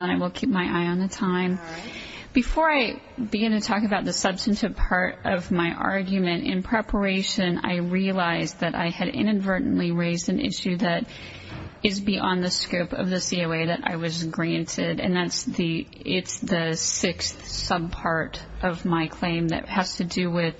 Before I begin to talk about the substantive part of my argument, in preparation I realized that I had inadvertently raised an issue that is beyond the scope of the COA that I was granted, and that's the sixth subpart of my claim that has to do with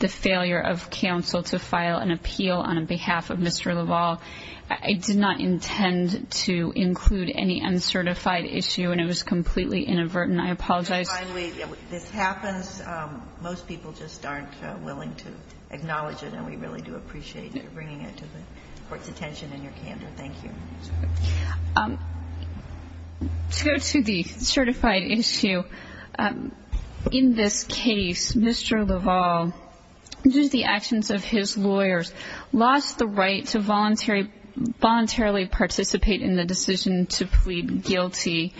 the failure of counsel to file an appeal on behalf of Mr. Lavoll. I did not intend to include any uncertified issue, and it was completely inadvertent. I apologize. Finally, this happens. Most people just aren't willing to acknowledge it, and we really do appreciate you bringing it to the Court's attention and your candor. Thank you. To go to the certified issue, in this case, Mr. Lavoll, due to the actions of his lawyers, lost the right to voluntarily participate in the decision to plead guilty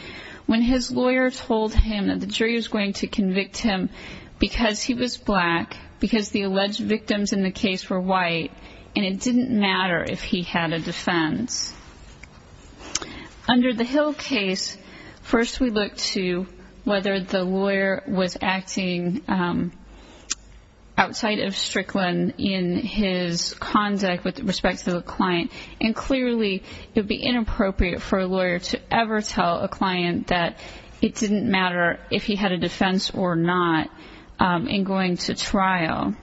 when his lawyer told him that the jury was going to convict him because he was black, because the alleged victims in the case were white, and it didn't matter if he had a defense. Under the Hill case, first we looked to whether the lawyer was acting outside of Strickland in his conduct with respect to the client, and clearly it would be inappropriate for a lawyer to ever tell a client that it didn't matter if he had a defense or not in going to trial.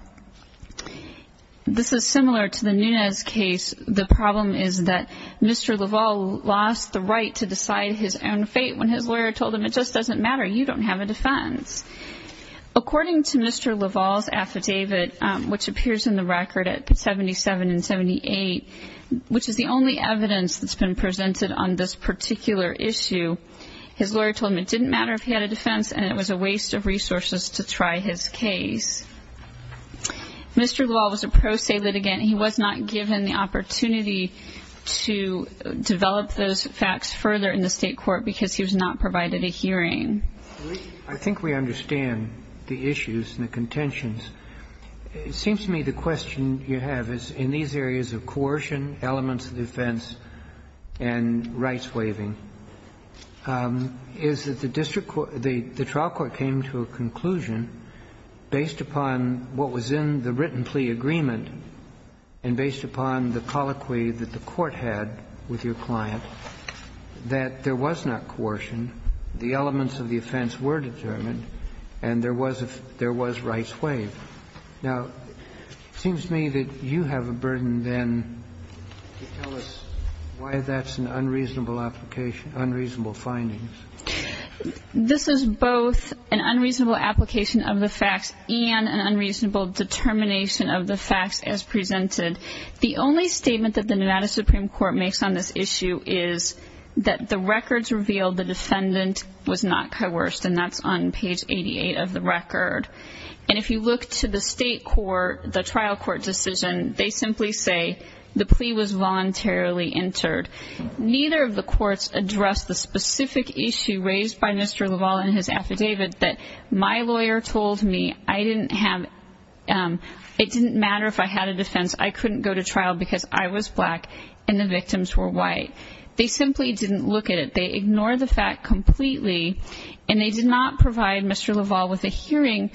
This is similar to the Nunes case. The problem is that Mr. Lavoll lost the right to decide his own fate when his lawyer told him it just doesn't matter. You don't have a defense. According to Mr. Lavoll's affidavit, which appears in the record at 77 and 78, which is the only evidence that's been presented on this particular issue, his lawyer told him it didn't matter if he had a defense and it was a waste of resources to try his case. Mr. Lavoll was a pro se litigant. He was not given the opportunity to develop those facts further in the state court because he was not provided a hearing. I think we understand the issues and the contentions. It seems to me the question you have is in these areas of coercion, elements of defense and rights waiving, is that the district court, the trial court came to a conclusion based upon what was in the written plea agreement and based upon the colloquy that the court had with your client that there was not coercion. The elements of the offense were determined and there was rights waived. Now, it seems to me that you have a burden then to tell us why that's an unreasonable application, unreasonable findings. This is both an unreasonable application of the facts and an unreasonable determination of the facts as presented. The only statement that the Nevada Supreme Court makes on this issue is that the records reveal the defendant was not coerced and that's on page 88 of the record. If you look to the state court, the trial court decision, they simply say the plea was voluntarily entered. Neither of the courts addressed the specific issue raised by Mr. Lavoll in his affidavit that my lawyer told me it didn't matter if I had a defense, I couldn't go to trial because I was black and the victims were white. They simply didn't look at it. They ignored the fact completely, and they did not provide Mr. Lavoll with a hearing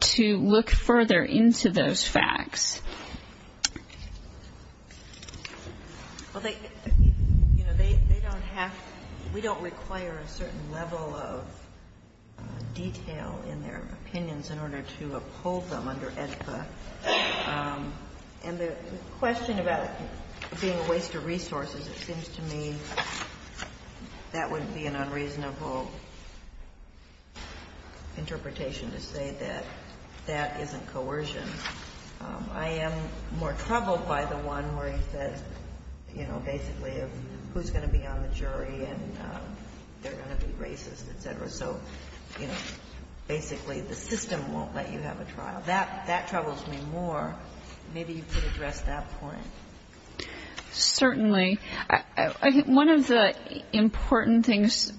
to look further into those facts. Well, they, you know, they don't have to, we don't require a certain level of detail in their opinions in order to uphold them under AEDPA. And the question about it being a waste of resources, it seems to me that would be an unreasonable interpretation to say that that isn't coercion. I am more troubled by the one where he says, you know, basically who's going to be on the jury and they're going to be racist, et cetera. So, you know, basically the system won't let you have a trial. That troubles me more. Maybe you could address that point. Certainly. One of the important things,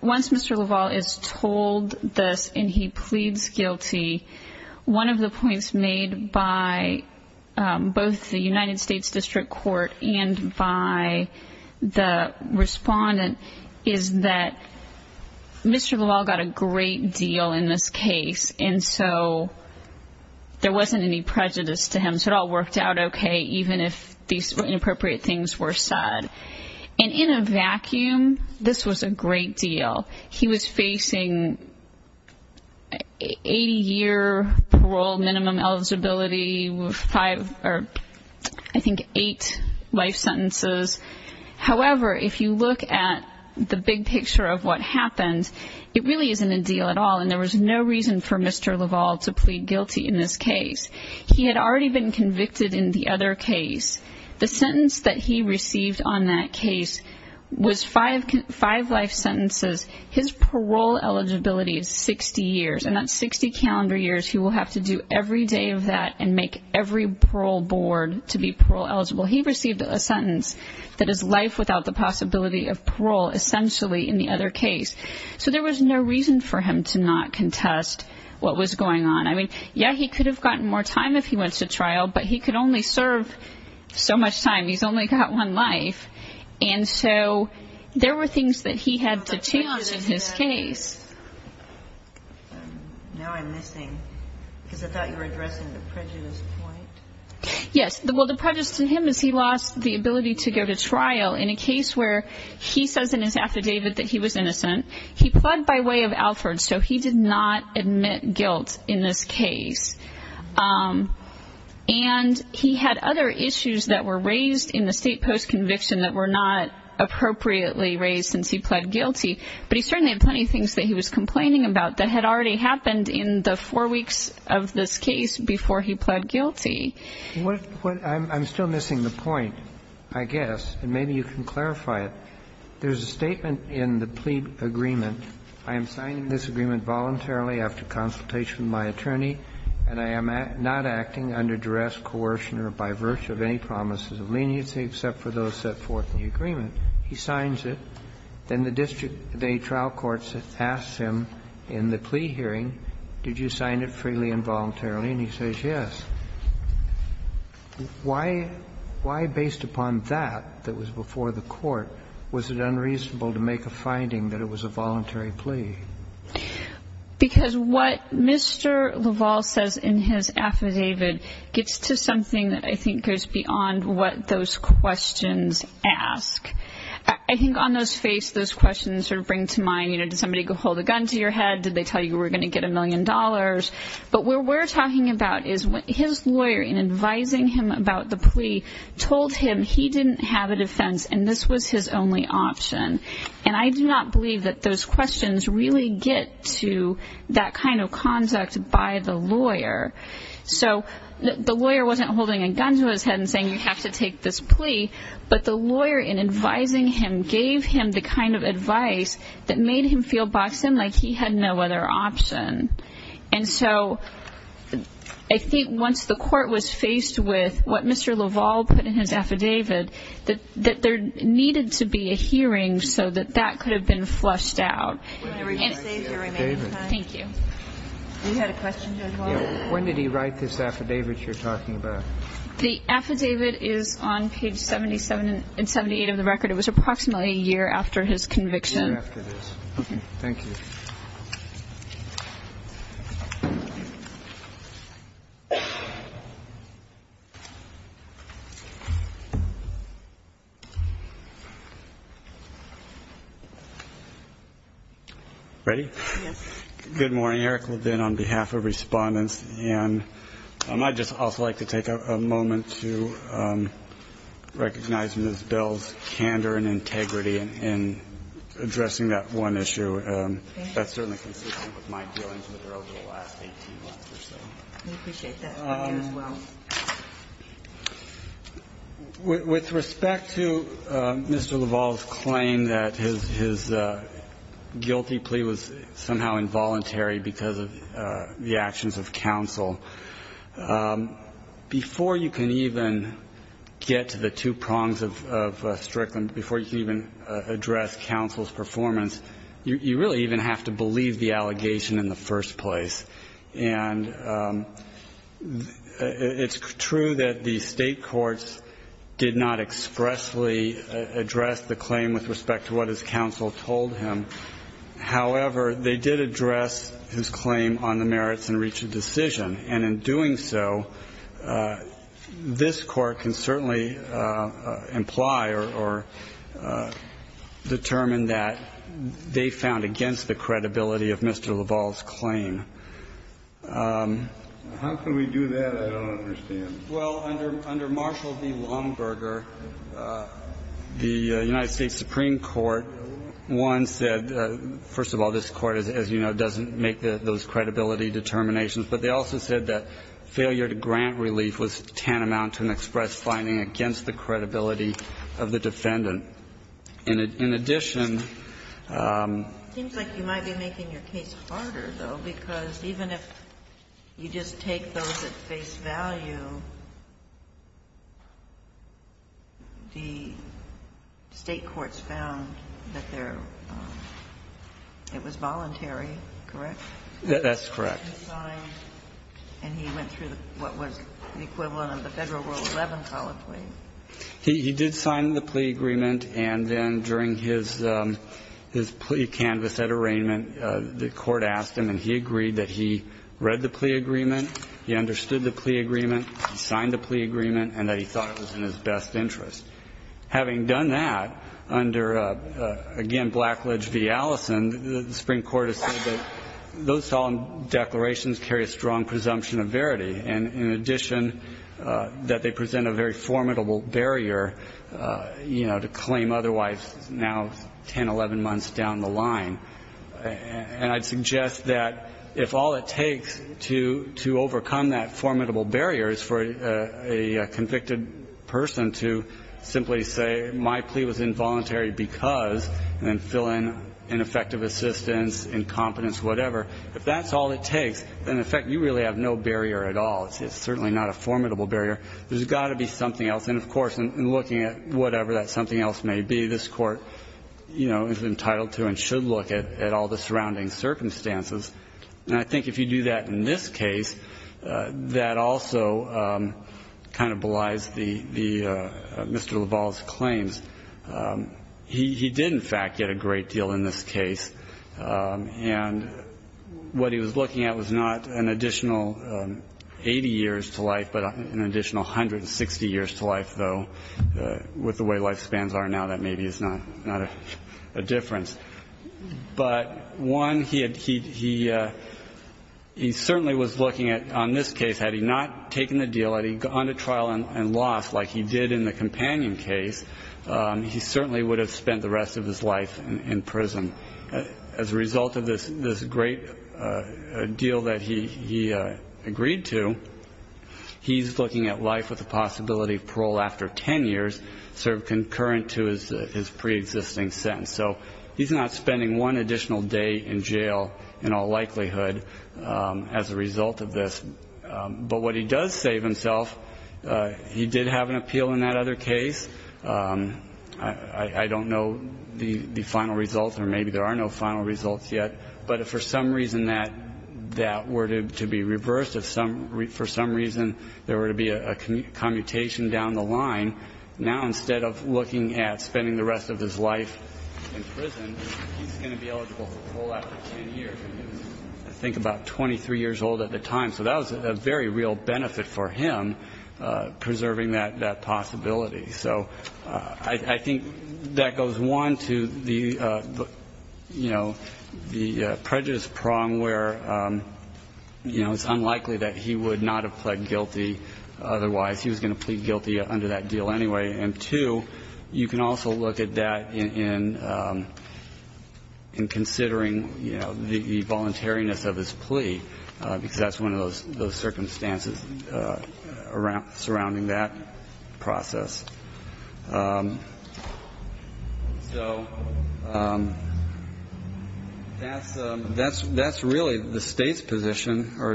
once Mr. Lavoll is told this and he pleads guilty, one of the points made by both the United States District Court and by the respondent is that Mr. Lavoll got a great deal in this case. And so there wasn't any prejudice to him. So it all worked out okay, even if these inappropriate things were said. And in a vacuum, this was a great deal. He was facing 80 year parole, minimum eligibility, five or I think eight life sentences. However, if you look at the big picture of what happened, it really isn't a deal at all and there was no reason for Mr. Lavoll to plead guilty in this case. He had already been convicted in the other case. The sentence that he received on that case was five life sentences. His parole eligibility is 60 years and that's 60 calendar years. He will have to do every day of that and make every parole board to be parole eligible. He received a sentence that is life without the possibility of parole, essentially in the other case. So there was no reason for him to not contest what was going on. I mean, yeah, he could have gotten more time if he went to trial, but he could only serve so much time. He's only got one life. And so there were things that he had to change in his case. Now I'm missing, because I thought you were addressing the prejudice point. Yes. Well, the prejudice to him is he lost the ability to go to trial in a case where he says in his affidavit that he was innocent. He pled by way of Alford, so he did not admit guilt in this case. And he had other issues that were raised in the state post-conviction that were not appropriately raised since he pled guilty. But he certainly had plenty of things that he was complaining about that had already happened in the four weeks of this case before he pled guilty. I'm still missing the point, I guess. And maybe you can clarify it. There's a statement in the plea agreement. I am signing this agreement voluntarily after consultation with my attorney, and I am not acting under duress, coercion, or by virtue of any promises of leniency except for those set forth in the agreement. He signs it. Then the district trial court asks him in the plea hearing, did you sign it freely and voluntarily, and he says yes. Why, based upon that, that was before the court, was it unreasonable to make a finding that it was a voluntary plea? Because what Mr. LaValle says in his affidavit gets to something that I think goes beyond what those questions ask. I think on those face, those questions sort of bring to mind, you know, did somebody go hold a gun to your head? Did they tell you we're going to get a million dollars? But what we're talking about is his lawyer, in advising him about the plea, told him he didn't have a defense and this was his only option. And I do not believe that those questions really get to that kind of conduct by the lawyer. So the lawyer wasn't holding a gun to his head and saying you have to take this plea, but the lawyer, in advising him, gave him the kind of advice that made him feel boxed in like he had no other option. And so I think once the court was faced with what Mr. LaValle put in his affidavit, that there needed to be a hearing so that that could have been flushed out. Thank you. When did he write this affidavit you're talking about? The affidavit is on page 77 and 78 of the record. It was approximately a year after his conviction. Thank you. Thank you. Ready? Good morning. Eric Levine on behalf of respondents. And I'd just also like to take a moment to recognize Ms. Bell's candor and integrity in addressing that one issue. That's certainly consistent with my dealings with her over the last 18 months or so. We appreciate that as well. With respect to Mr. LaValle's claim that his guilty plea was somehow involuntary because of the actions of counsel, before you can even get to the two prongs of Strickland, before you can even address counsel's performance, you really even have to believe the allegation in the first place. And it's true that the state courts did not expressly address the claim with respect to what his counsel told him. However, they did address his claim on the merits and reach a decision. And in doing so, this Court can certainly imply or determine that they found against the credibility of Mr. LaValle's claim. How can we do that? I don't understand. Well, under Marshall v. Longberger, the United States Supreme Court, one said, first of all, this Court, as you know, doesn't make those credibility determinations. But they also said that failure to grant relief was tantamount to an express finding against the credibility of the defendant. And in addition --" It seems like you might be making your case harder, though, because even if you just take those at face value, the state courts found that their --" it was voluntary, correct? That's correct. I'm sorry. And he went through what was the equivalent of the Federal Rule 11, probably. He did sign the plea agreement. And then during his plea canvas at arraignment, the Court asked him, and he agreed that he read the plea agreement, he understood the plea agreement, signed the plea agreement, and that he thought it was in his best interest. Having done that under, again, Blackledge v. Allison, the Supreme Court has said those solemn declarations carry a strong presumption of verity. And in addition, that they present a very formidable barrier, you know, to claim otherwise now 10, 11 months down the line. And I'd suggest that if all it takes to overcome that formidable barrier is for a convicted person to simply say, my plea was involuntary because, and then fill in ineffective assistance, incompetence, whatever. If that's all it takes, then in effect you really have no barrier at all. It's certainly not a formidable barrier. There's got to be something else. And of course, in looking at whatever that something else may be, this Court, you know, is entitled to and should look at all the surrounding circumstances. And I think if you do that in this case, that also kind of belies the Mr. LaValle's claims. He did, in fact, get a great deal in this case. And what he was looking at was not an additional 80 years to life, but an additional 160 years to life, though. With the way life spans are now, that maybe is not a difference. But, one, he certainly was looking at, on this case, had he not taken the deal, gone to trial and lost, like he did in the companion case, he certainly would have spent the rest of his life in prison. As a result of this great deal that he agreed to, he's looking at life with the possibility of parole after 10 years, sort of concurrent to his preexisting sentence. So he's not spending one additional day in jail, in all likelihood, as a result of this. But what he does say of himself, he did have an appeal in that other case. I don't know the final results, or maybe there are no final results yet. But if for some reason that were to be reversed, if for some reason there were to be a commutation down the line, now instead of looking at spending the rest of his life in prison, he's going to be eligible for parole after 10 years. And he was, I think, about 23 years old at the time. So that was a very real benefit for him, preserving that possibility. So I think that goes, one, to the prejudice prong where it's unlikely that he would not have pled guilty otherwise. He was going to plead guilty under that deal anyway. And two, you can also look at that in considering the voluntariness of his plea, because that's one of those circumstances surrounding that process. So that's really the State's position, or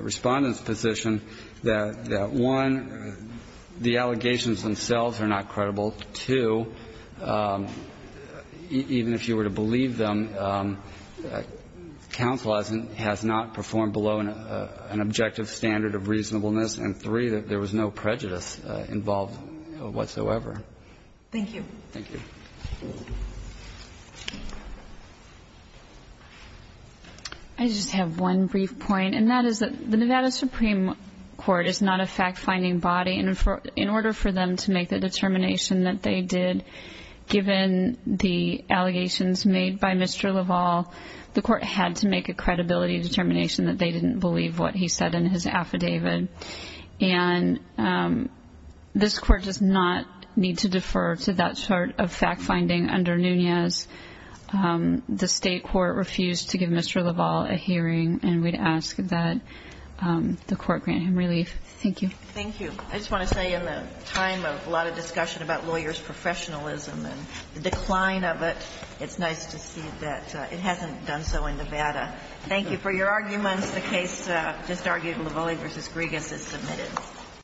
Respondent's position, that, one, the allegations themselves are not credible. Two, even if you were to believe them, counsel has not performed below an objective standard of reasonableness. And three, that there was no prejudice involved whatsoever. Thank you. Thank you. I just have one brief point, and that is that the Nevada Supreme Court is not a fact-finding body. And in order for them to make the determination that they did, given the allegations made by Mr. LaValle, the Court had to make a credibility determination that they didn't believe what he said in his affidavit. And this Court does not need to defer to that sort of fact-finding under Nunez. The State Court refused to give Mr. LaValle a hearing, and we'd ask that the Court grant him relief. Thank you. Thank you. I just want to say in the time of a lot of discussion about lawyers' professionalism and the decline of it, it's nice to see that it hasn't done so in Nevada. Thank you. For your arguments, the case just argued, LaValle v. Griegas, is submitted.